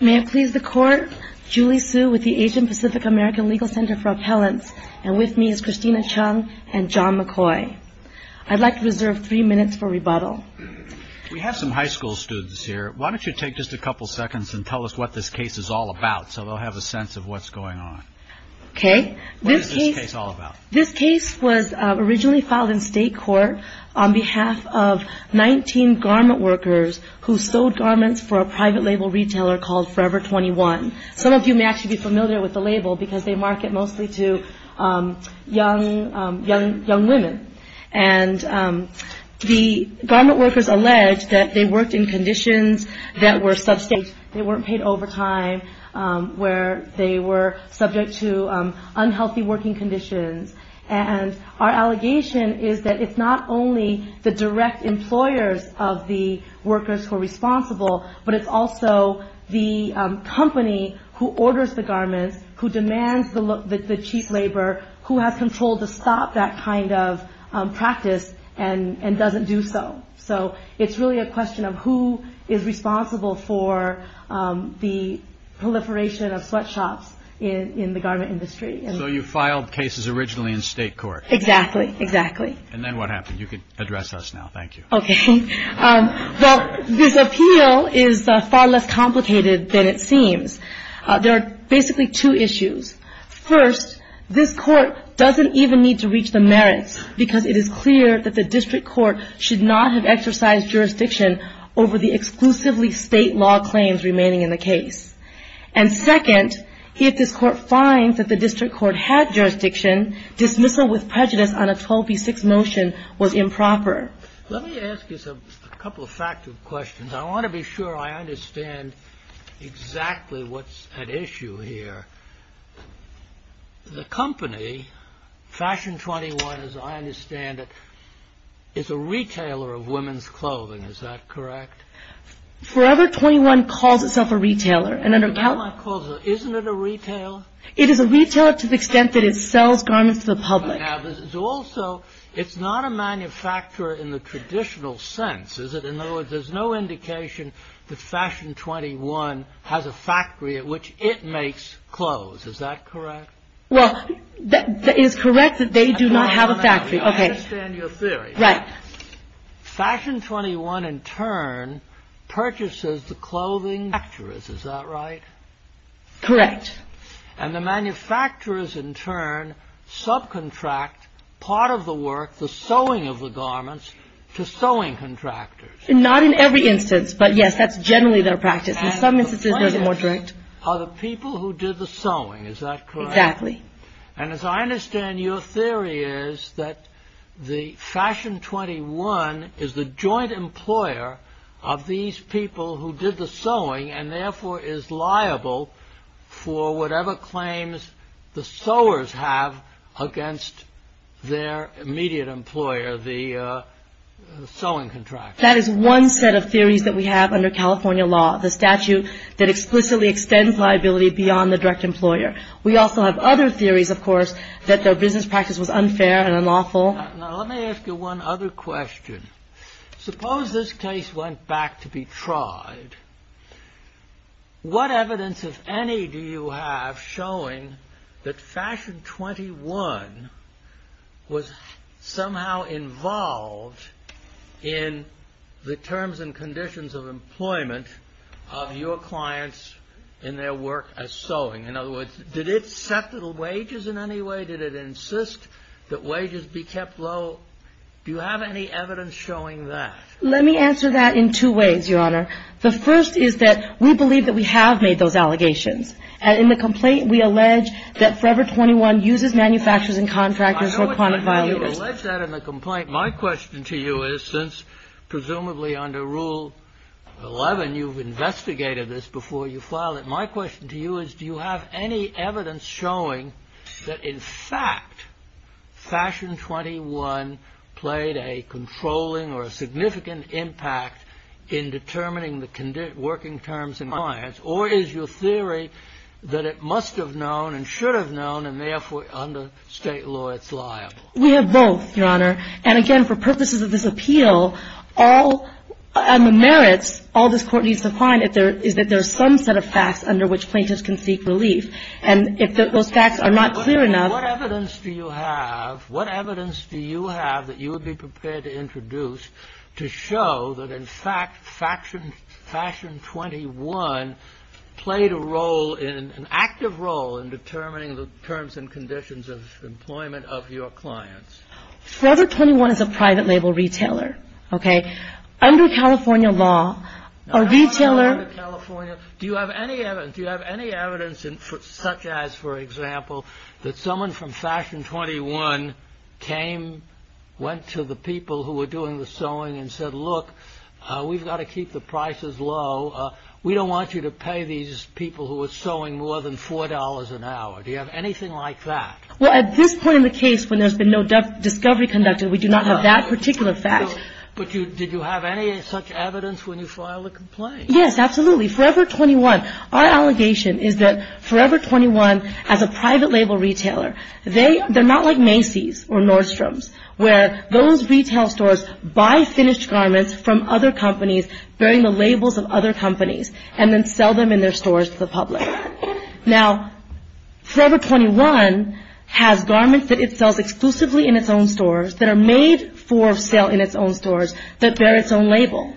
May I please the Court, Julie Hsu with the Asian Pacific American Legal Center for Appellants and with me is Christina Chung and John McCoy. I'd like to reserve three minutes for rebuttal. We have some high school students here. Why don't you take just a couple seconds and tell us what this case is all about, so they'll have a sense of what's going on. Okay. What is this case all about? This case was originally filed in state court on behalf of 19 garment workers who sewed garments for a private label retailer called Forever 21. Some of you may actually be familiar with the label because they market mostly to young women. And the garment workers alleged that they worked in conditions that were substantial. They weren't paid overtime, where they were subject to unhealthy working conditions. And our allegation is that it's not only the direct employers of the workers who are responsible, but it's also the company who orders the garments, who demands the cheap labor, who has control to stop that kind of practice and doesn't do so. So, it's really a question of who is responsible for the proliferation of sweatshops in the garment industry. So, you filed cases originally in state court? Exactly. Exactly. And then what happened? You can address us now. Thank you. Okay. Well, this appeal is far less complicated than it seems. There are basically two issues. First, this court doesn't even need to reach the merits because it is clear that the district court should not have exercised jurisdiction over the exclusively state law claims remaining in the case. And second, if this court finds that the district court had jurisdiction, dismissal with prejudice on a 12b6 motion was improper. Let me ask you a couple of factual questions. I want to be sure I understand exactly what's at issue here. The company, Fashion 21, as I understand it, is a retailer of women's clothing. Is that correct? Forever 21 calls itself a retailer. Isn't it a retailer? It is a retailer to the extent that it sells garments to the public. Also, it's not a manufacturer in the traditional sense, is it? In other words, there's no indication that Fashion 21 has a factory at which it makes clothes. Is that correct? Well, it is correct that they do not have a factory. I understand your theory. Fashion 21, in turn, purchases the clothing manufacturers. Is that right? And the manufacturers, in turn, subcontract part of the work, the sewing of the garments, to sewing contractors. Not in every instance, but, yes, that's generally their practice. In some instances, it's more And the clients are the people who did the sewing. Is that correct? Exactly. And as I understand, your theory is that Fashion 21 is the joint employer of these people who did the sewing and, therefore, is liable for whatever claims the sewers have against their immediate employer, the sewing contractor. That is one set of theories that we have under California law, the statute that explicitly extends liability beyond the direct employer. We also have other theories, of course, that their business practice was unfair and unlawful. Now, let me ask you one other question. Suppose this case went back to be tried. What evidence, if any, do you have showing that Fashion 21 was somehow involved in the purchase of the terms and conditions of employment of your clients in their work as sewing? In other words, did it set the wages in any way? Did it insist that wages be kept low? Do you have any evidence showing that? Let me answer that in two ways, Your Honor. The first is that we believe that we have made those allegations. And in the complaint, we allege that Forever 21 uses manufacturers and contractors who are chronic violators. You allege that in the complaint. My question to you is, since presumably under Rule 11 you've investigated this before you filed it, my question to you is, do you have any evidence showing that, in fact, Fashion 21 played a controlling or a significant impact in determining the working terms of your clients? Or is your theory that it must have known and should have known and, therefore, under state law, it's liable? We have both, Your Honor. And again, for purposes of this appeal, all the merits all this Court needs to find is that there is some set of facts under which plaintiffs can seek relief. And if those facts are not clear enough… What evidence do you have? What evidence do you have that you would be prepared to introduce to show that, in fact, Fashion 21 played a role, an active role, in determining the terms and conditions of employment of your clients? Forever 21 is a private label retailer. Under California law, a retailer… Do you have any evidence, such as, for example, that someone from Fashion 21 came, went to the people who were doing the sewing and said, look, we've got to keep the prices low. We don't want you to pay these people who are sewing more than $4 an hour. Do you have anything like that? Well, at this point in the case, when there's been no discovery conducted, we do not have that particular fact. But did you have any such evidence when you filed a complaint? Yes, absolutely. Forever 21. Our allegation is that Forever 21, as a private label retailer… They're not like Macy's or Nordstrom's, where those retail stores buy finished garments from other companies, bearing the labels of other companies, and then sell them in their stores to the public. Now, Forever 21 has garments that it sells exclusively in its own stores, that are made for sale in its own stores, that bear its own label.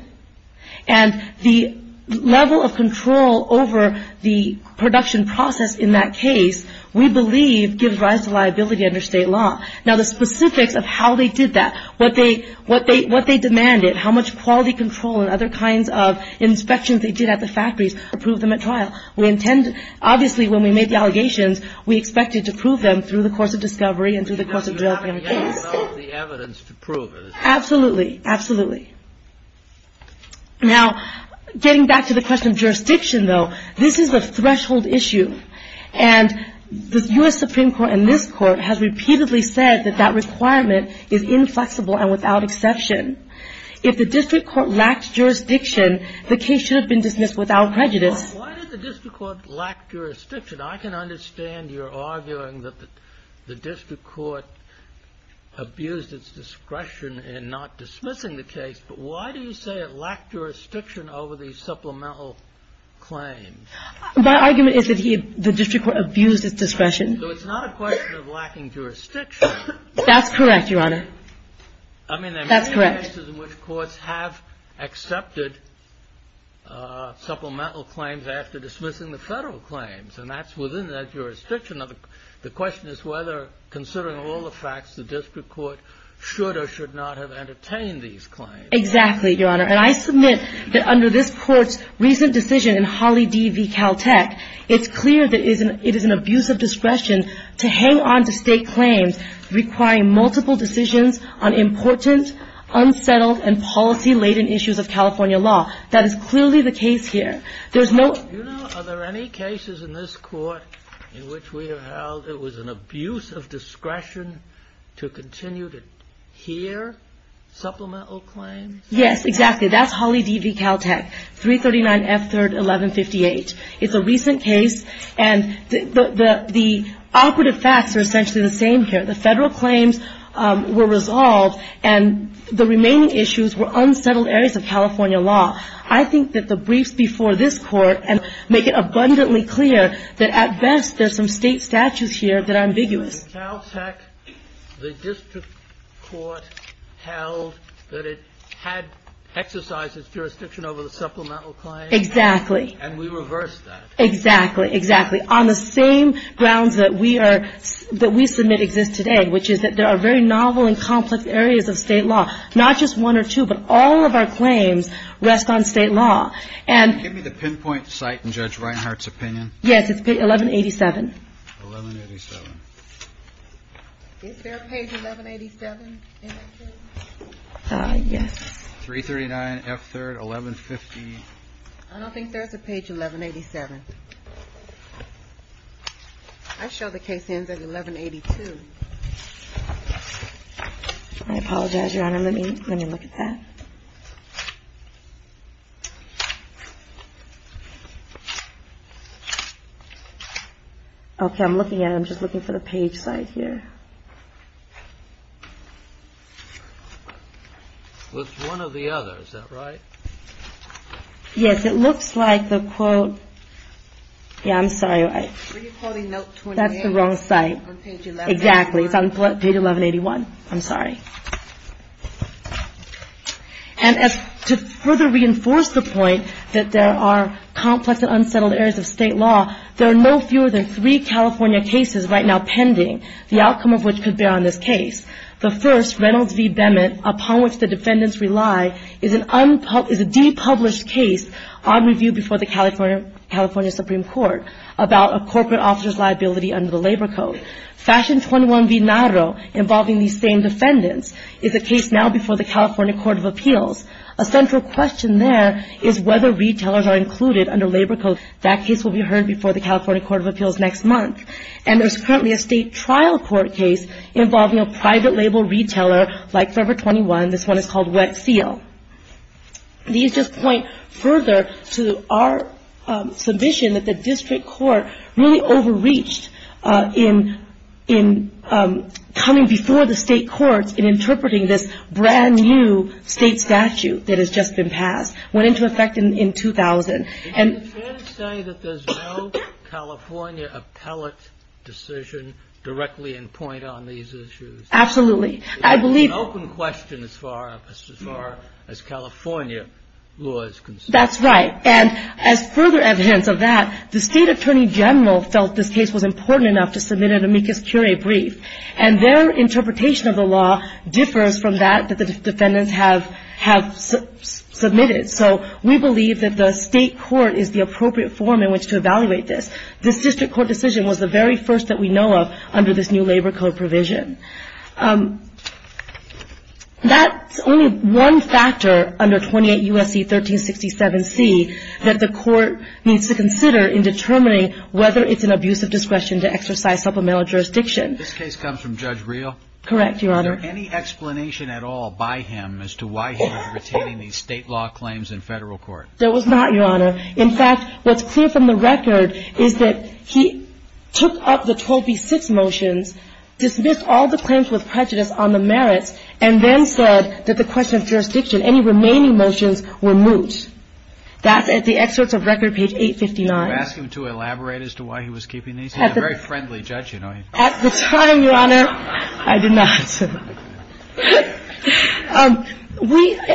And the level of control over the production process in that case, we believe, gives rise to liability under state law. Now, the specifics of how they did that, what they demanded, how much quality control and other kinds of inspections they did at the factories to prove them at trial, we intend… Obviously, when we made the allegations, we expected to prove them through the course of discovery and through the course of developing the case. But you haven't yet developed the evidence to prove it. Absolutely. Now, getting back to the question of jurisdiction, though, this is a threshold issue. And the U.S. Supreme Court and this Court have repeatedly said that that requirement is inflexible and without exception. If the district court lacked jurisdiction, the case should have been dismissed without prejudice. Why did the district court lack jurisdiction? I can understand your arguing that the district court abused its discretion in not dismissing the case, but why do you say it lacked jurisdiction over these supplemental claims? My argument is that the district court abused its discretion. So it's not a question of lacking jurisdiction. That's correct, Your Honor. I mean, there are many cases in which courts have accepted supplemental claims after dismissing the Federal claims, and that's within that jurisdiction. The question is whether, considering all the facts, the district court should or should not have entertained these claims. Exactly, Your Honor. And I submit that under this Court's recent decision in Holly D. v. Caltech, it's clear that it is an abuse of discretion to hang on to State claims requiring multiple decisions on important, unsettled, and policy-laden issues of California law. That is clearly the case here. There's no — Do you know, are there any cases in this Court in which we have held it was an abuse of discretion to continue to hear supplemental claims? Yes, exactly. That's Holly D. v. Caltech, 339 F. 3rd, 1158. It's a recent case, and the operative facts are essentially the same here. The Federal claims were resolved, and the remaining issues were unsettled areas of California law. I think that the briefs before this Court make it abundantly clear that, at best, there's some State statutes here that are ambiguous. In Caltech, the district court held that it had exercised its jurisdiction over the supplemental claims. Exactly. And we reversed that. Exactly. Exactly. On the same grounds that we are — that we submit exist today, which is that there are very novel and complex areas of State law, not just one or two, but all of our claims rest on State law. And — Give me the pinpoint site in Judge Reinhart's opinion. Yes. It's 1187. 1187. Is there a page 1187 in that case? Yes. 339 F. 3rd, 1150. I don't think there's a page 1187. I show the case ends at 1182. I apologize, Your Honor. Let me — let me look at that. Okay. I'm looking at it. I'm just looking for the page site here. Well, it's one or the other. Is that right? Yes. It looks like the quote — yeah, I'm sorry. I — Were you quoting note 28? That's the wrong site. On page 1181. Exactly. It's on page 1181. I'm sorry. And to further reinforce the point that there are complex and unsettled areas of State law, there are no fewer than three California cases right now pending, the outcome of which could bear on this case. The first, Reynolds v. Bennett, upon which the defendants rely, is an unpub — is a depublished case on review before the California — California Supreme Court about a corporate officer's liability under the Labor Code. Fashion 21 v. Naro, involving these same defendants, is a case now before the California Court of Appeals. A central question there is whether retailers are included under Labor Code. That case will be heard before the California Court of Appeals next month. And there's currently a state trial court case involving a private label retailer like Forever 21. This one is called Wet Seal. These just point further to our submission that the district court really overreached in — in coming before the state courts in interpreting this brand-new state statute that has just been passed. Went into effect in — in 2000. And — Can you say that there's no California appellate decision directly in point on these issues? Absolutely. I believe — It's an open question as far as — as far as California law is concerned. That's right. And as further evidence of that, the state attorney general felt this case was important enough to submit an amicus curiae brief. And their interpretation of the law differs from that that the defendants have — have submitted. So we believe that the state court is the appropriate form in which to evaluate this. This district court decision was the very first that we know of under this new Labor Code provision. That's only one factor under 28 U.S.C. 1367C that the court needs to consider in determining whether it's an abuse of discretion to exercise supplemental jurisdiction. This case comes from Judge Reel? Correct, Your Honor. Was there any explanation at all by him as to why he was retaining these state law claims in federal court? There was not, Your Honor. In fact, what's clear from the record is that he took up the 12B6 motions, dismissed all the claims with prejudice on the merits, and then said that the question of jurisdiction, any remaining motions were moot. That's at the excerpts of record, page 859. Did you ask him to elaborate as to why he was keeping these? He's a very friendly judge, you know. At the time, Your Honor, I did not.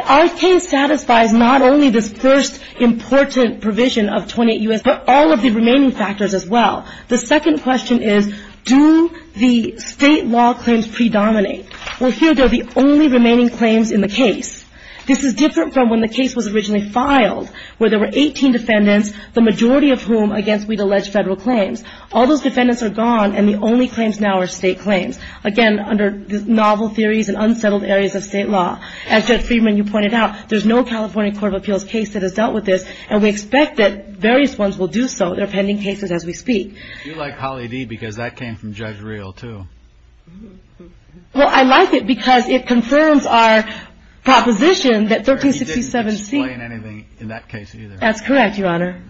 Our case satisfies not only this first important provision of 28 U.S., but all of the remaining factors as well. The second question is, do the state law claims predominate? Well, here, they're the only remaining claims in the case. This is different from when the case was originally filed, where there were 18 defendants, the majority of whom against which we'd allege federal claims. All those defendants are gone, and the only claims now are state claims. Again, under novel theories and unsettled areas of state law. As Judge Friedman, you pointed out, there's no California Court of Appeals case that has dealt with this, and we expect that various ones will do so. There are pending cases as we speak. You like Holly D., because that came from Judge Reel, too. Well, I like it, because it confirms our proposition that 1367 C. He didn't explain anything in that case, either. That's correct, Your Honor.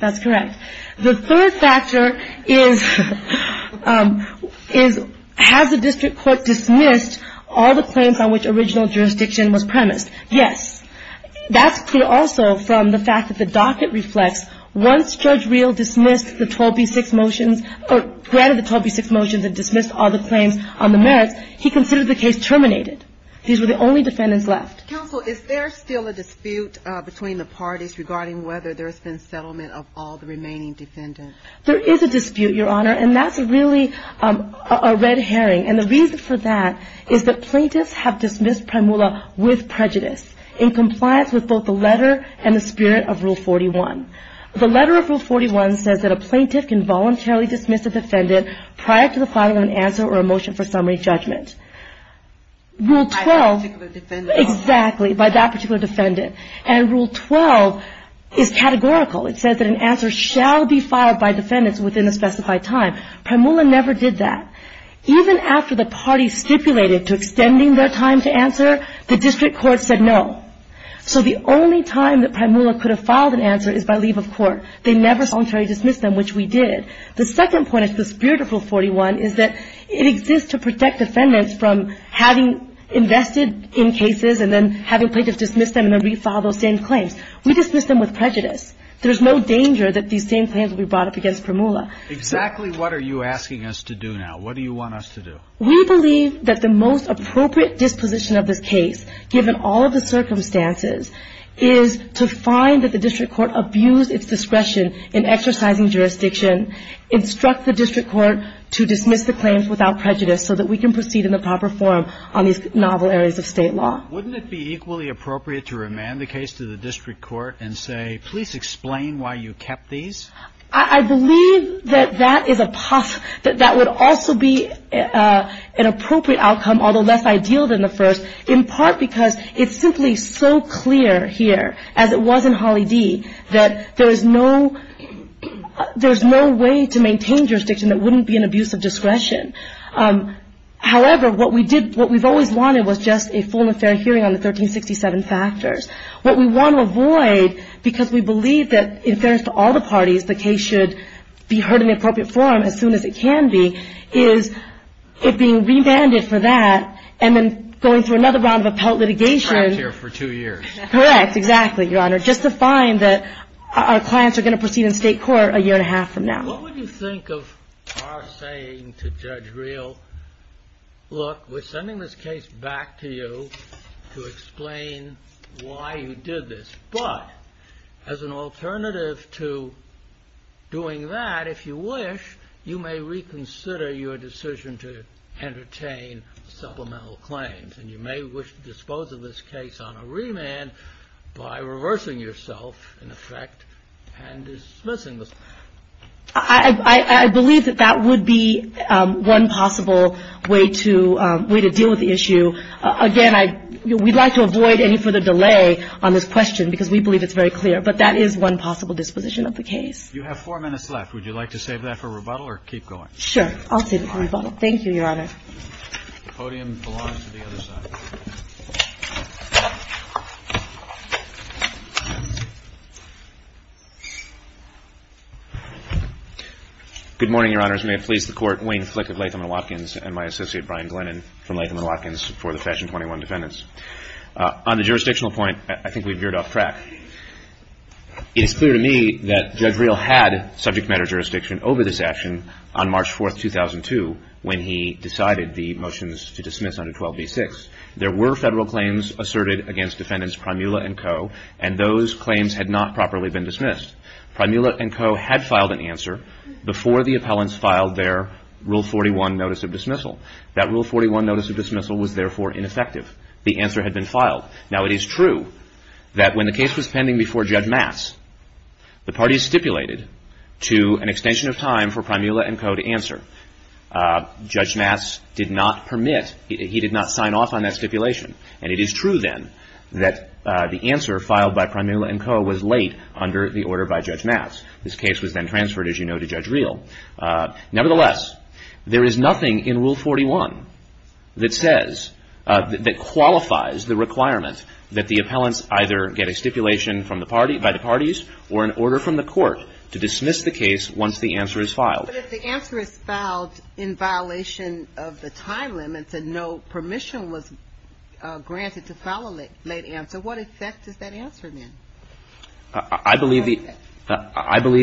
That's correct. The third factor is, has the district court dismissed all the claims on which original jurisdiction was premised? Yes. That's clear also from the fact that the docket reflects once Judge Reel dismissed the 12b-6 motions, or granted the 12b-6 motions and dismissed all the claims on the merits, he considered the case terminated. These were the only defendants left. Counsel, is there still a dispute between the parties regarding whether there's been settlement of all the remaining defendants? There is a dispute, Your Honor, and that's really a red herring. And the reason for that is that plaintiffs have dismissed Primula with prejudice, in compliance with both the letter and the spirit of Rule 41. The letter of Rule 41 says that a plaintiff can voluntarily dismiss a defendant prior to the filing of an answer or a motion for summary judgment. By that particular defendant? Exactly, by that particular defendant. And Rule 12 is categorical. It says that an answer shall be filed by defendants within a specified time. Primula never did that. Even after the parties stipulated to extending their time to answer, the district court said no. So the only time that Primula could have filed an answer is by leave of court. They never voluntarily dismissed them, which we did. The second point of the spirit of Rule 41 is that it exists to protect defendants from having invested in cases and then having plaintiffs dismiss them and then refile those same claims. We dismiss them with prejudice. There's no danger that these same claims will be brought up against Primula. Exactly what are you asking us to do now? What do you want us to do? We believe that the most appropriate disposition of this case, given all of the circumstances, is to find that the district court abused its discretion in exercising jurisdiction, instruct the district court to dismiss the claims without prejudice so that we can proceed in the proper form on these novel areas of state law. Wouldn't it be equally appropriate to remand the case to the district court and say, please explain why you kept these? I believe that that is a possible, that that would also be an appropriate outcome, although less ideal than the first, in part because it's simply so clear here, as it was in Holly D., that there is no way to maintain jurisdiction that wouldn't be an abuse of discretion. However, what we've always wanted was just a full and fair hearing on the 1367 factors. What we want to avoid, because we believe that in fairness to all the parties, the case should be heard in the appropriate form as soon as it can be, is it being remanded for that and then going through another round of appellate litigation. Trapped here for two years. Correct. Exactly, Your Honor. Just to find that our clients are going to proceed in state court a year and a half from now. What would you think of our saying to Judge Real, look, we're sending this case back to you to explain why you did this, but as an alternative to doing that, if you wish, you may reconsider your decision to entertain supplemental claims, and you may wish to dispose of this case on a remand by reversing yourself, in effect, and dismissing this. I believe that that would be one possible way to deal with the issue. Again, we'd like to avoid any further delay on this question, because we believe it's very clear. But that is one possible disposition of the case. You have four minutes left. Would you like to save that for rebuttal or keep going? Sure. I'll save it for rebuttal. Thank you, Your Honor. The podium belongs to the other side. Good morning, Your Honors. May it please the Court, Wayne Flick of Latham & Watkins, and my associate Brian Glennon from Latham & Watkins for the Fashion 21 defendants. On the jurisdictional point, I think we veered off track. It is clear to me that Judge Real had subject matter jurisdiction over this action on March 4, 2002, when he decided the motions to dismiss under 12b-6. There were federal claims asserted against defendants Primula and Co., and those claims had not properly been dismissed. Primula and Co. had filed an answer before the appellants filed their Rule 41 notice of dismissal. That Rule 41 notice of dismissal was, therefore, ineffective. The answer had been filed. Now, it is true that when the case was pending before Judge Mass, the parties stipulated to an extension of time for Primula and Co. to answer. Judge Mass did not permit. He did not sign off on that stipulation. And it is true, then, that the answer filed by Primula and Co. was late under the order by Judge Mass. This case was then transferred, as you know, to Judge Real. Nevertheless, there is nothing in Rule 41 that says, that qualifies the requirement that the appellants either get a stipulation from the party, by the parties, or an order from the court to dismiss the case once the answer is filed. But if the answer is filed in violation of the time limits, and no permission was granted to file a late answer, what effect does that answer have? I believe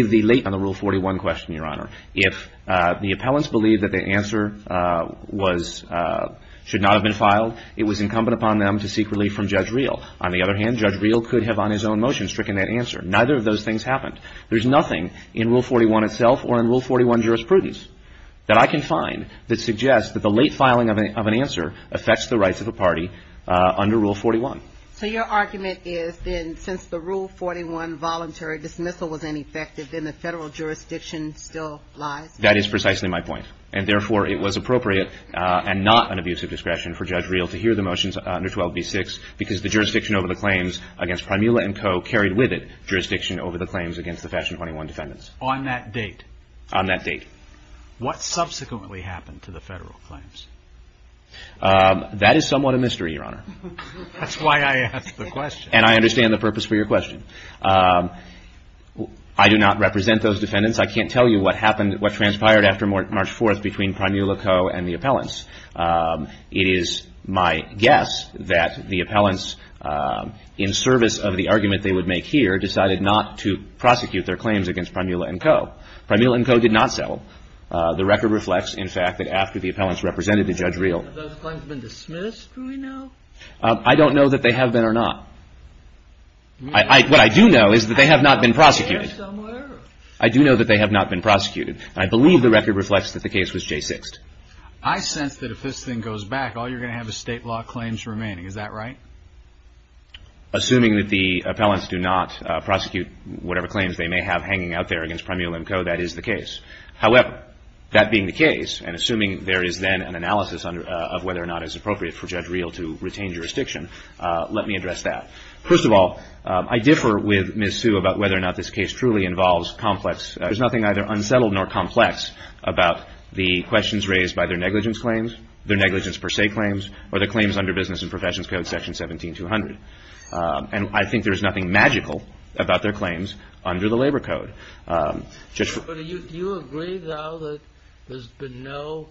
the late on the Rule 41 question, Your Honor. If the appellants believed that the answer should not have been filed, it was incumbent upon them to seek relief from Judge Real. On the other hand, Judge Real could have, on his own motion, stricken that answer. Neither of those things happened. There's nothing in Rule 41 itself, or in Rule 41 jurisprudence, that I can find that suggests that the late filing of an answer affects the rights of a party under Rule 41. So your argument is, then, since the Rule 41 voluntary dismissal was ineffective, then the Federal jurisdiction still lies? That is precisely my point. And therefore, it was appropriate, and not an abuse of discretion, for Judge Real to hear the motions under 12b-6, because the jurisdiction over the claims against Primula and Co. carried with it On that date? On that date. What subsequently happened to the Federal claims? That is somewhat a mystery, Your Honor. That's why I asked the question. And I understand the purpose for your question. I do not represent those defendants. I can't tell you what transpired after March 4th between Primula Co. and the appellants. It is my guess that the appellants, in service of the argument they would make here, decided not to prosecute their claims against Primula and Co. Primula and Co. did not settle. The record reflects, in fact, that after the appellants represented Judge Real Have those claims been dismissed, do we know? I don't know that they have been or not. What I do know is that they have not been prosecuted. I do know that they have not been prosecuted. And I believe the record reflects that the case was J6'd. I sense that if this thing goes back, all you're going to have is state law claims remaining. Is that right? Assuming that the appellants do not prosecute whatever claims they may have hanging out there against Primula and Co., that is the case. However, that being the case, and assuming there is then an analysis of whether or not it is appropriate for Judge Real to retain jurisdiction, let me address that. First of all, I differ with Ms. Sue about whether or not this case truly involves complex There's nothing either unsettled nor complex about the questions raised by their negligence claims, their negligence per se claims, or their claims under Business and Professions Code Section 17200. And I think there's nothing magical about their claims under the Labor Code. Do you agree, though, that there's been no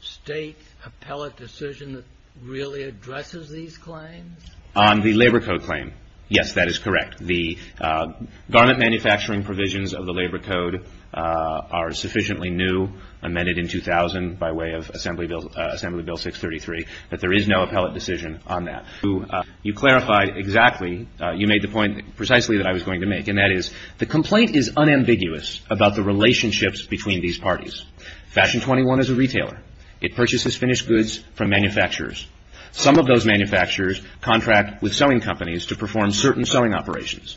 state appellate decision that really addresses these claims? On the Labor Code claim, yes, that is correct. The garment manufacturing provisions of the Labor Code are sufficiently new, amended in 2000 by way of Assembly Bill 633, that there is no appellate decision on that. You clarified exactly, you made the point precisely that I was going to make, and that is the complaint is unambiguous about the relationships between these parties. Fashion 21 is a retailer. It purchases finished goods from manufacturers. Some of those manufacturers contract with sewing companies to perform certain sewing operations.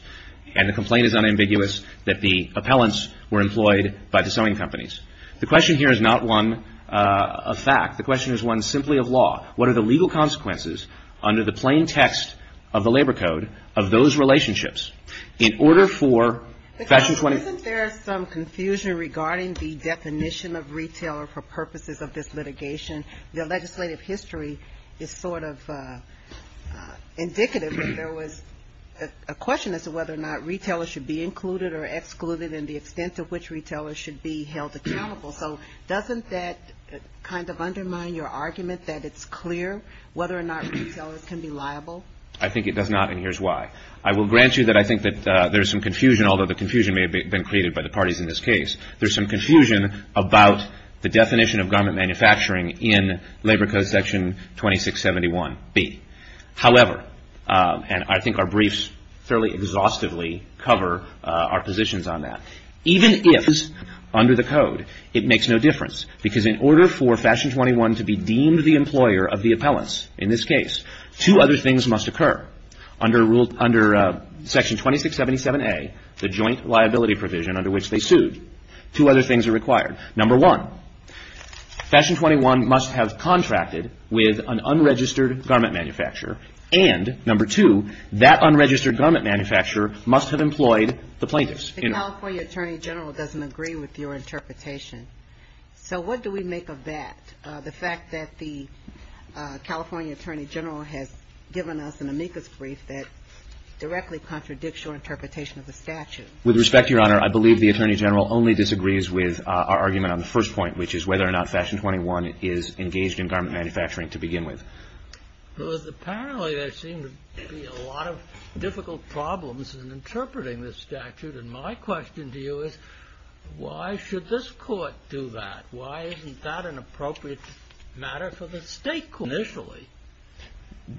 And the complaint is unambiguous that the appellants were employed by the sewing companies. The question here is not one of fact. The question is one simply of law. What are the legal consequences under the plain text of the Labor Code of those relationships in order for Fashion 21? Isn't there some confusion regarding the definition of retailer for purposes of this litigation? The legislative history is sort of indicative that there was a question as to whether or not retailers should be included or excluded and the extent to which retailers should be held accountable. So doesn't that kind of undermine your argument that it's clear whether or not retailers can be liable? I think it does not, and here's why. I will grant you that I think that there's some confusion, although the confusion may have been created by the parties in this case. There's some confusion about the definition of garment manufacturing in Labor Code Section 2671B. However, and I think our briefs fairly exhaustively cover our positions on that, even if under the code it makes no difference because in order for Fashion 21 to be deemed the employer of the appellants in this case, two other things must occur. Under Section 2677A, the joint liability provision under which they sued, two other things are required. Number one, Fashion 21 must have contracted with an unregistered garment manufacturer, and number two, that unregistered garment manufacturer must have employed the plaintiffs. The California Attorney General doesn't agree with your interpretation, so what do we make of that? The fact that the California Attorney General has given us an amicus brief that directly contradicts your interpretation of the statute. With respect, Your Honor, I believe the Attorney General only disagrees with our argument on the first point, which is whether or not Fashion 21 is engaged in garment manufacturing to begin with. Well, apparently there seem to be a lot of difficult problems in interpreting this statute, and my question to you is why should this court do that? Why isn't that an appropriate matter for the state court initially?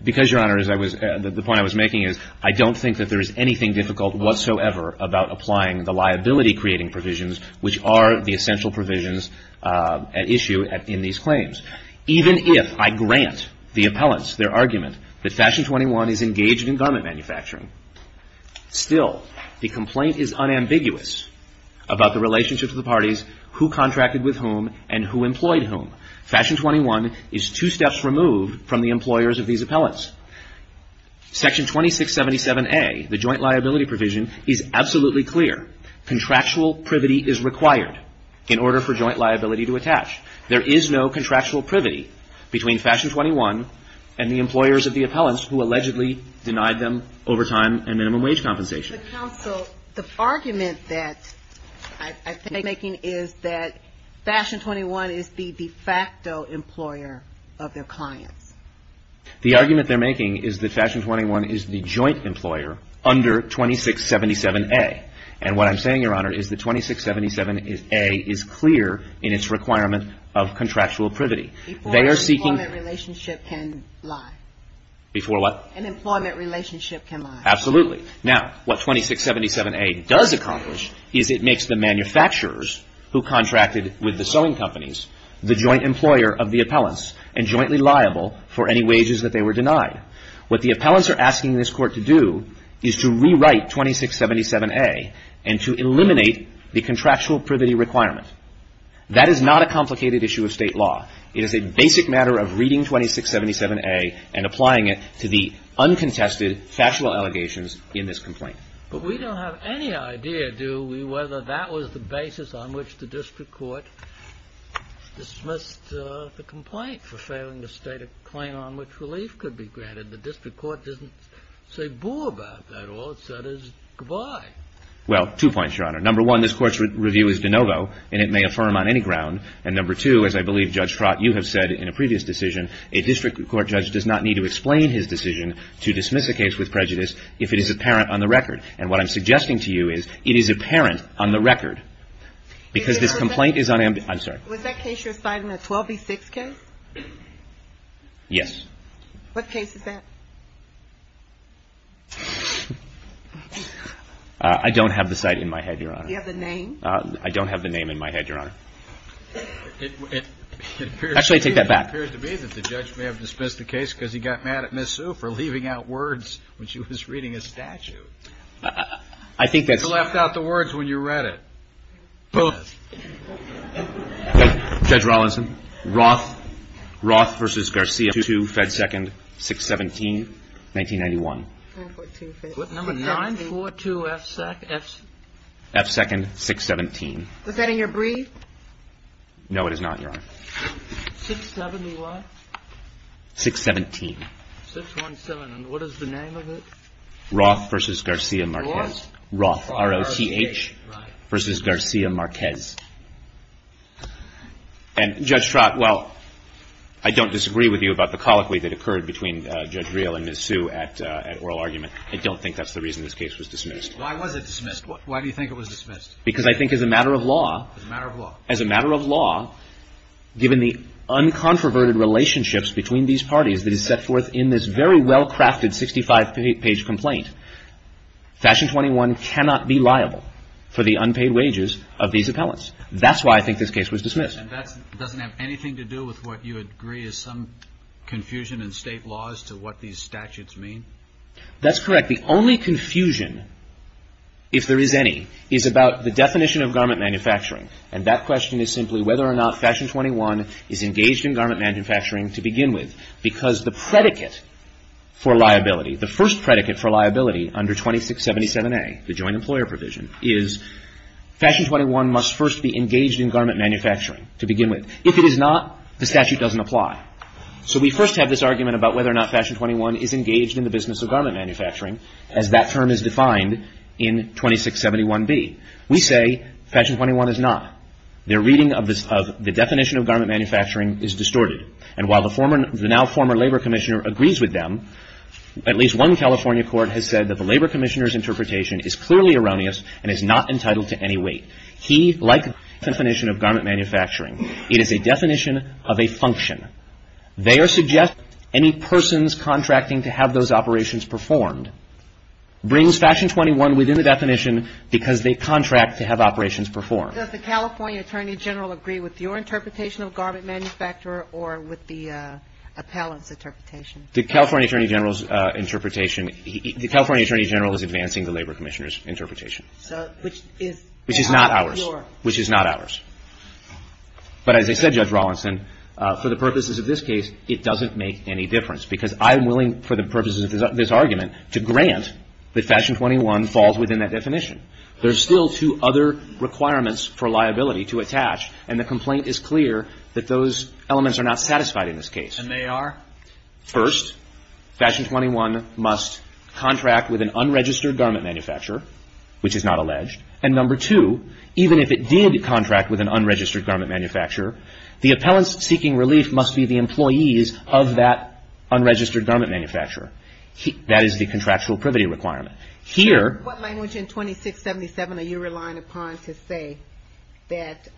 Because, Your Honor, the point I was making is I don't think that there is anything difficult whatsoever about applying the liability-creating provisions, which are the essential provisions at issue in these claims. Even if I grant the appellants their argument that Fashion 21 is engaged in garment manufacturing, still the complaint is unambiguous about the relationship to the parties, who contracted with whom, and who employed whom. Fashion 21 is two steps removed from the employers of these appellants. Section 2677A, the joint liability provision, is absolutely clear. Contractual privity is required in order for joint liability to attach. There is no contractual privity between Fashion 21 and the employers of the appellants who allegedly denied them overtime and minimum wage compensation. The argument that I think they're making is that Fashion 21 is the de facto employer of their clients. The argument they're making is that Fashion 21 is the joint employer under 2677A. And what I'm saying, Your Honor, is that 2677A is clear in its requirement of contractual privity. Before an employment relationship can lie. Before what? An employment relationship can lie. Absolutely. Now, what 2677A does accomplish is it makes the manufacturers who contracted with the sewing companies the joint employer of the appellants and jointly liable for any wages that they were denied. What the appellants are asking this Court to do is to rewrite 2677A and to eliminate the contractual privity requirement. That is not a complicated issue of state law. It is a basic matter of reading 2677A and applying it to the uncontested factual allegations in this complaint. But we don't have any idea, do we, whether that was the basis on which the district court dismissed the complaint for failing to state a claim on which relief could be granted. The district court doesn't say bull about that. All it said is goodbye. Well, two points, Your Honor. Number one, this Court's review is de novo, and it may affirm on any ground. And number two, as I believe, Judge Trott, you have said in a previous decision, a district court judge does not need to explain his decision to dismiss a case with prejudice if it is apparent on the record. And what I'm suggesting to you is it is apparent on the record because this complaint is unambiguous. I'm sorry. Was that case you're citing a 12B6 case? Yes. What case is that? I don't have the site in my head, Your Honor. Do you have the name? I don't have the name in my head, Your Honor. Actually, I take that back. It appears to me that the judge may have dismissed the case because he got mad at Ms. Sue for leaving out words when she was reading his statute. I think that's... You left out the words when you read it. Both. Judge Rollinson. Roth v. Garcia, 2-2, Fed Second, 6-17, 1991. Number 942F... Fed Second, 6-17. Was that in your brief? No, it is not, Your Honor. 6-7 is what? 6-17. 6-1-7. And what is the name of it? Roth v. Garcia-Marquez. Roth? Roth, R-O-T-H, v. Garcia-Marquez. And, Judge Trott, well, I don't disagree with you about the colloquy that occurred between Judge Real and Ms. Sue at oral argument. I don't think that's the reason this case was dismissed. Why was it dismissed? Why do you think it was dismissed? Because I think as a matter of law... As a matter of law. As a matter of law, given the uncontroverted relationships between these parties that is set forth in this very well-crafted 65-page complaint, Fashion 21 cannot be liable for the unpaid wages of these appellants. That's why I think this case was dismissed. And that doesn't have anything to do with what you agree is some confusion in state laws to what these statutes mean? That's correct. The only confusion, if there is any, is about the definition of garment manufacturing. And that question is simply whether or not Fashion 21 is engaged in garment manufacturing to begin with. Because the predicate for liability, the first predicate for liability under 2677A, the joint employer provision, is Fashion 21 must first be engaged in garment manufacturing to begin with. If it is not, the statute doesn't apply. So we first have this argument about whether or not Fashion 21 is engaged in the business of garment manufacturing, as that term is defined in 2671B. We say Fashion 21 is not. Their reading of the definition of garment manufacturing is distorted. And while the now former labor commissioner agrees with them, at least one California court has said that the labor commissioner's interpretation is clearly erroneous and is not entitled to any weight. He, like the definition of garment manufacturing, it is a definition of a function. They are suggesting any persons contracting to have those operations performed brings Fashion 21 within the definition because they contract to have operations performed. Does the California attorney general agree with your interpretation of garment manufacturer or with the appellant's interpretation? The California attorney general's interpretation, the California attorney general is advancing the labor commissioner's interpretation. Which is not ours. Which is not ours. But as I said, Judge Rawlinson, for the purposes of this case, it doesn't make any difference because I'm willing, for the purposes of this argument, to grant that Fashion 21 falls within that definition. There's still two other requirements for liability to attach, and the complaint is clear that those elements are not satisfied in this case. And they are? First, Fashion 21 must contract with an unregistered garment manufacturer, which is not alleged. And number two, even if it did contract with an unregistered garment manufacturer, the appellants seeking relief must be the employees of that unregistered garment manufacturer. That is the contractual privity requirement. Here... What language in 2677 are you relying upon to say that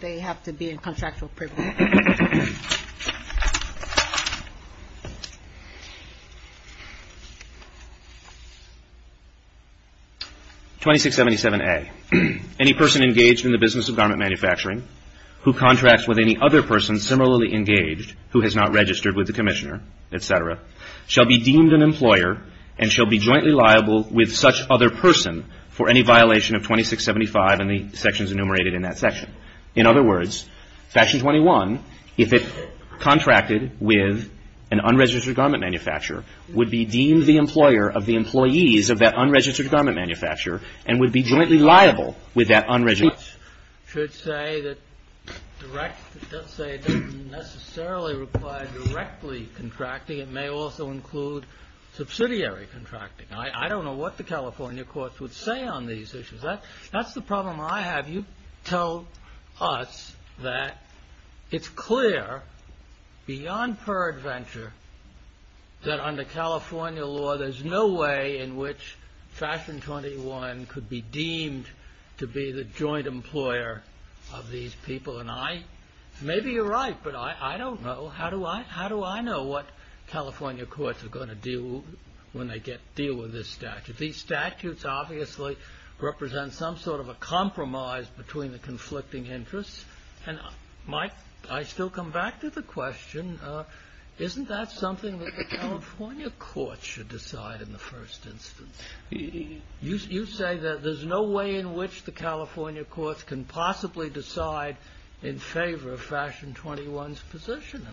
they have to be in contractual privity? 2677A. Any person engaged in the business of garment manufacturing who contracts with any other person similarly engaged who has not registered with the commissioner, et cetera, shall be deemed an employer and shall be jointly liable with such other person for any violation of 2675 and the sections enumerated in that section. In other words, Fashion 21, if it contracted with an unregistered garment manufacturer, would be deemed the employer of the employees of that unregistered garment manufacturer and would be jointly liable with that unregistered... Should say that direct... Let's say it doesn't necessarily require directly contracting. It may also include subsidiary contracting. I don't know what the California courts would say on these issues. That's the problem I have. You tell us that it's clear beyond peradventure that under California law there's no way in which Fashion 21 could be deemed to be the joint employer of these people. And I... Maybe you're right, but I don't know. How do I know what California courts are going to do when they deal with this statute? These statutes obviously represent some sort of a compromise between the conflicting interests. And, Mike, I still come back to the question, isn't that something that the California courts should decide in the first instance? You say that there's no way in which the California courts can possibly decide in favor of Fashion 21's position.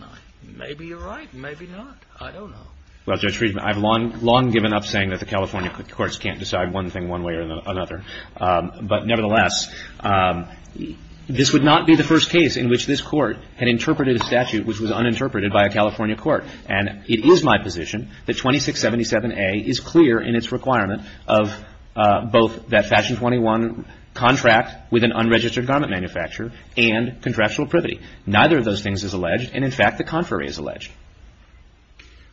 Maybe you're right, maybe not. I don't know. Well, Judge Friedman, I've long given up saying that the California courts can't decide one thing one way or another. But, nevertheless, this would not be the first case in which this court had interpreted a statute which was uninterpreted by a California court. And it is my position that 2677A is clear in its requirement of both that Fashion 21 contract with an unregistered garment manufacturer and contractual privity. Neither of those things is alleged. And, in fact, the contrary is alleged.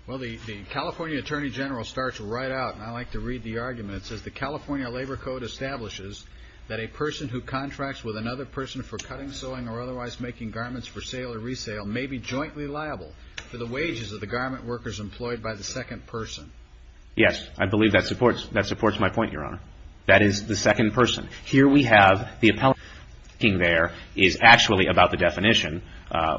Well, the California Attorney General starts right out, and I like to read the arguments, says the California Labor Code establishes that a person who contracts with another person for cutting, sewing, or otherwise making garments for sale or resale may be jointly liable for the wages of the garment workers employed by the second person. Yes, I believe that supports my point, Your Honor. That is the second person. Here we have the appellate working there is actually about the definition,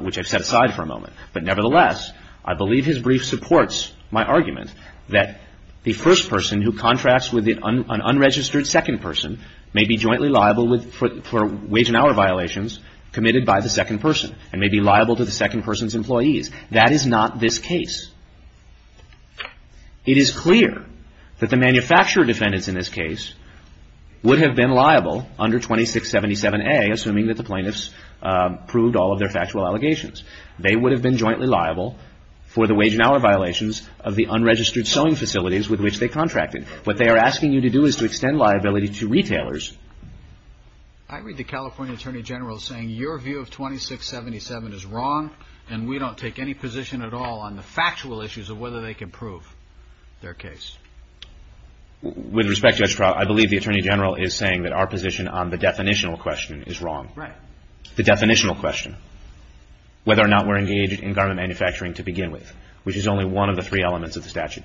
which I've set aside for a moment. But, nevertheless, I believe his brief supports my argument that the first person who contracts with an unregistered second person may be jointly liable for wage and hour violations committed by the second person and may be liable to the second person's employees. That is not this case. It is clear that the manufacturer defendants in this case would have been liable under 2677A, assuming that the plaintiffs proved all of their factual allegations. They would have been jointly liable for the wage and hour violations of the unregistered sewing facilities with which they contracted. What they are asking you to do is to extend liability to retailers. I read the California Attorney General saying your view of 2677 is wrong, and we don't take any position at all on the factual issues of whether they can prove their case. With respect, Judge Kraut, I believe the Attorney General is saying that our position on the definitional question is wrong. Right. The definitional question, whether or not we're engaged in garment manufacturing to begin with, which is only one of the three elements of the statute.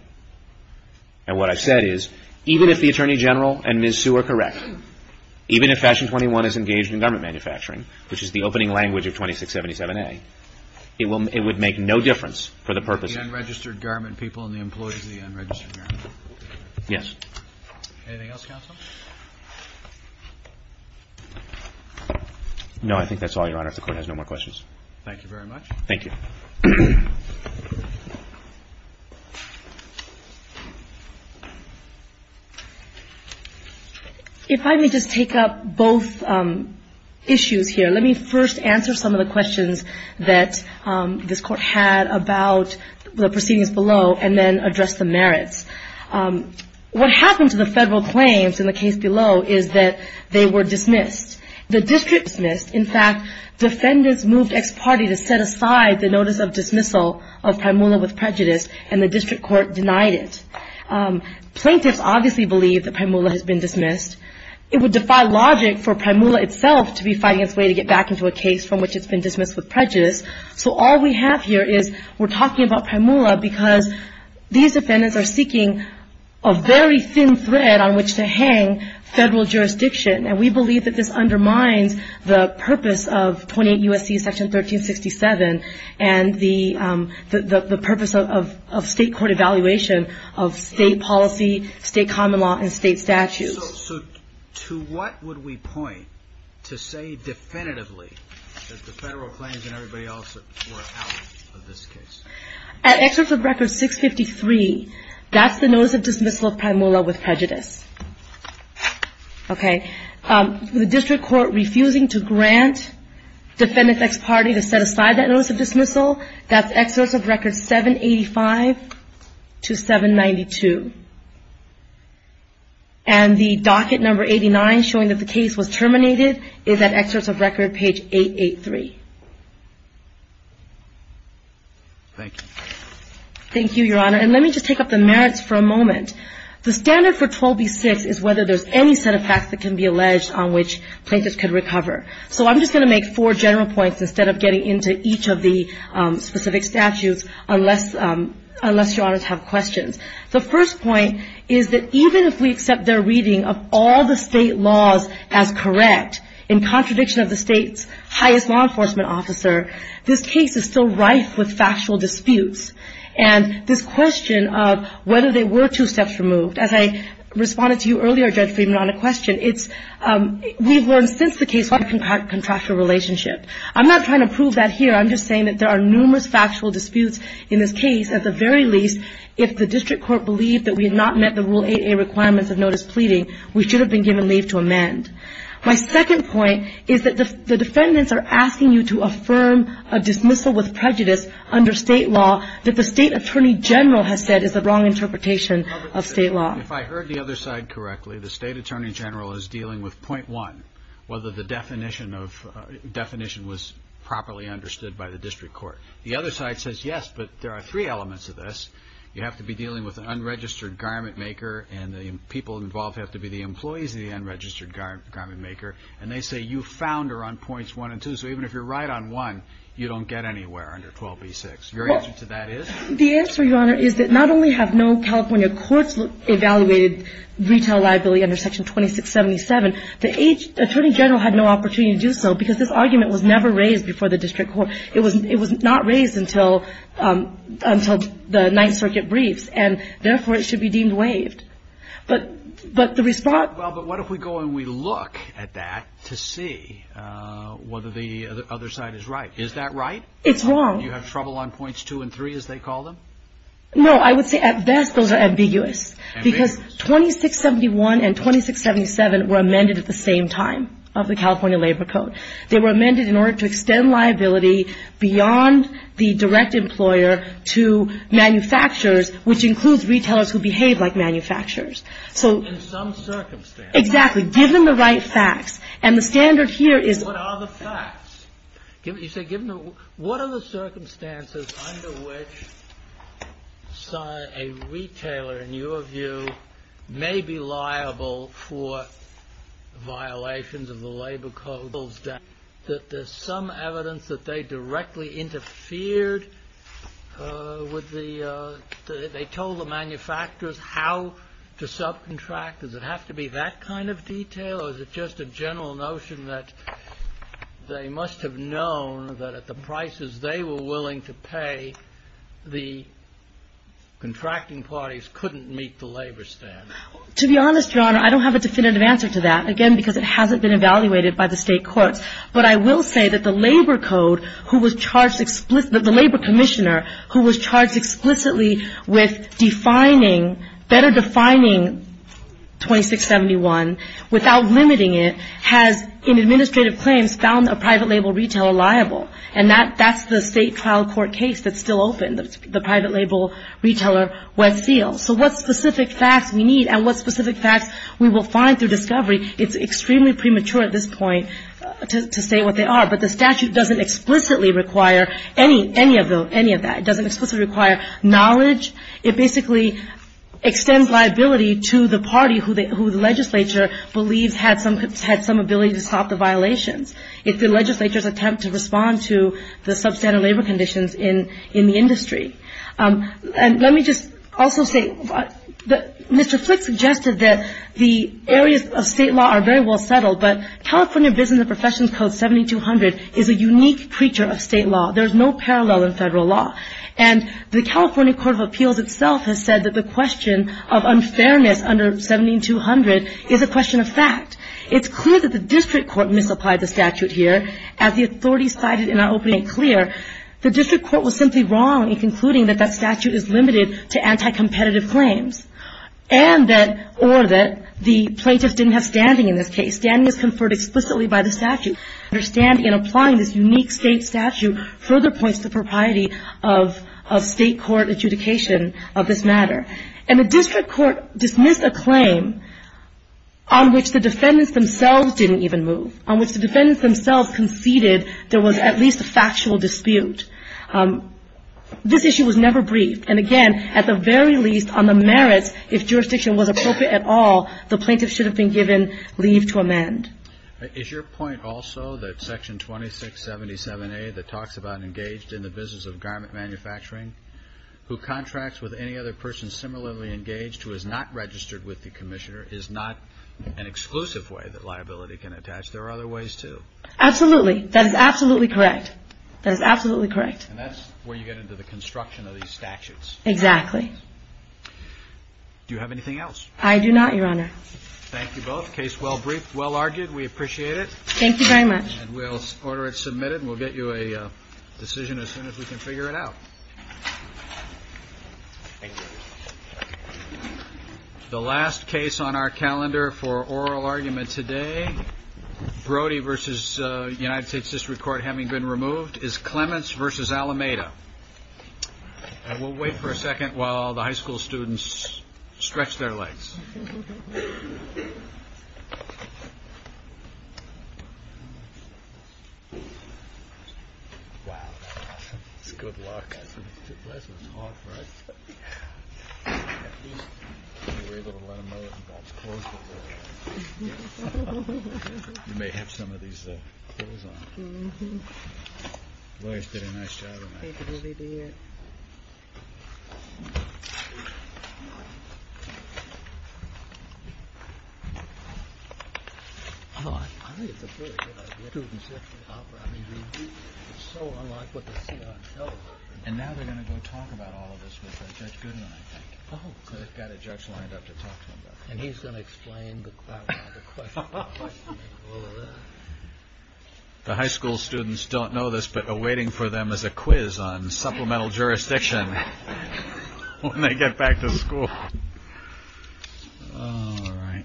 And what I've said is, even if the Attorney General and Ms. Sue are correct, even if Fashion 21 is engaged in garment manufacturing, which is the opening language of 2677A, it would make no difference for the purposes of the unregistered garment people and the employees of the unregistered garment. Yes. Anything else, counsel? No, I think that's all, Your Honor. If the Court has no more questions. Thank you very much. Thank you. If I may just take up both issues here. Let me first answer some of the questions that this Court had about the proceedings below and then address the merits. What happened to the federal claims in the case below is that they were dismissed. The district dismissed. In fact, defendants moved ex parte to set aside the notice of dismissal of Primula with prejudice, and the district court denied it. Plaintiffs obviously believe that Primula has been dismissed. It would defy logic for Primula itself to be fighting its way to get back into a case from which it's been dismissed with prejudice. So all we have here is we're talking about Primula because these defendants are seeking a very thin thread on which to hang federal jurisdiction, and we believe that this undermines the purpose of 28 U.S.C. Section 1367 and the purpose of state court evaluation of state policy, state common law, and state statutes. So to what would we point to say definitively that the federal claims and everybody else were out of this case? At excerpt of record 653, that's the notice of dismissal of Primula with prejudice. Okay. The district court refusing to grant defendants ex parte to set aside that notice of dismissal, that's excerpt of record 785 to 792. And the docket number 89 showing that the case was terminated is at excerpt of record page 883. Thank you. Thank you, Your Honor. And let me just take up the merits for a moment. The standard for 12b-6 is whether there's any set of facts that can be alleged on which plaintiffs could recover. So I'm just going to make four general points instead of getting into each of the specific statutes unless Your Honors have questions. The first point is that even if we accept their reading of all the state laws as correct, in contradiction of the state's highest law enforcement officer, this case is still rife with factual disputes. And this question of whether they were two steps removed, as I responded to you earlier, Judge Friedman, on a question, it's we've learned since the case what a contractual relationship. I'm not trying to prove that here. I'm just saying that there are numerous factual disputes in this case. At the very least, if the district court believed that we had not met the Rule 8A requirements of notice pleading, we should have been given leave to amend. My second point is that the defendants are asking you to affirm a dismissal with prejudice under state law that the state attorney general has said is the wrong interpretation of state law. If I heard the other side correctly, the state attorney general is dealing with point one, whether the definition was properly understood by the district court. The other side says, yes, but there are three elements of this. You have to be dealing with an unregistered garment maker, and the people involved have to be the employees of the unregistered garment maker. And they say you found her on points one and two. So even if you're right on one, you don't get anywhere under 12b-6. Your answer to that is? The answer, Your Honor, is that not only have no California courts evaluated retail liability under Section 2677, the attorney general had no opportunity to do so because this argument was never raised before the district court. It was not raised until the Ninth Circuit briefs, and therefore, it should be deemed waived. But the response. Well, but what if we go and we look at that to see whether the other side is right? Is that right? It's wrong. You have trouble on points two and three, as they call them? No, I would say at best those are ambiguous. Ambiguous. Because 2671 and 2677 were amended at the same time of the California Labor Code. They were amended in order to extend liability beyond the direct employer to manufacturers, which includes retailers who behave like manufacturers. So. In some circumstances. Exactly. Given the right facts. And the standard here is. What are the facts? You say given the. What are the circumstances under which a retailer, in your view, may be liable for violations of the Labor Code? That there's some evidence that they directly interfered with the. They told the manufacturers how to subcontract. Does it have to be that kind of detail? Or is it just a general notion that they must have known that at the prices they were willing to pay, the contracting parties couldn't meet the labor standards? To be honest, Your Honor, I don't have a definitive answer to that. Again, because it hasn't been evaluated by the State courts. But I will say that the Labor Code, who was charged, the Labor Commissioner, who was charged explicitly with defining, better defining 2671 without limiting it, has in administrative claims found a private label retailer liable. And that's the state trial court case that's still open, the private label retailer Westfield. So what specific facts we need and what specific facts we will find through discovery, it's extremely premature at this point to say what they are. But the statute doesn't explicitly require any of that. It doesn't explicitly require knowledge. It basically extends liability to the party who the legislature believes had some ability to stop the violations, if the legislature's attempt to respond to the substandard labor conditions in the industry. And let me just also say that Mr. Flick suggested that the areas of state law are very well settled, but California Business and Professions Code 7200 is a unique creature of state law. There's no parallel in Federal law. And the California Court of Appeals itself has said that the question of unfairness under 7200 is a question of fact. It's clear that the district court misapplied the statute here. As the authorities cited in our opening, it's clear the district court was simply wrong in concluding that that statute is limited to anti-competitive claims. And that or that the plaintiffs didn't have standing in this case. Standing is conferred explicitly by the statute. Their standing in applying this unique state statute further points to propriety of state court adjudication of this matter. And the district court dismissed a claim on which the defendants themselves didn't even move, on which the defendants themselves conceded there was at least a factual dispute. This issue was never briefed. And, again, at the very least, on the merits, if jurisdiction was appropriate at all, the plaintiff should have been given leave to amend. Is your point also that Section 2677A that talks about engaged in the business of garment manufacturing, who contracts with any other person similarly engaged who is not registered with the commissioner, is not an exclusive way that liability can attach? There are other ways, too. Absolutely. That is absolutely correct. That is absolutely correct. And that's where you get into the construction of these statutes. Exactly. Do you have anything else? I do not, Your Honor. Thank you both. Case well briefed, well argued. We appreciate it. Thank you very much. And we'll order it submitted, and we'll get you a decision as soon as we can figure it out. Thank you. The last case on our calendar for oral argument today, Brody v. United States District Court having been removed, is Clements v. Alameda. And we'll wait for a second while the high school students stretch their legs. Wow. That's good luck. That was tough, right? Yeah. At least we were able to let him know that he got his clothes on. Mm-hmm. You guys did a nice job on that. Thank you. I think it's a pretty good idea. I mean, it's so unlike what they see on television. And now they're going to go talk about all of this with Judge Goodman, I think. Oh, good. They've got a judge lined up to talk to him about it. And he's going to explain the question. The high school students don't know this, but are waiting for them as a quiz on supplemental jurisdiction when they get back to school. All right.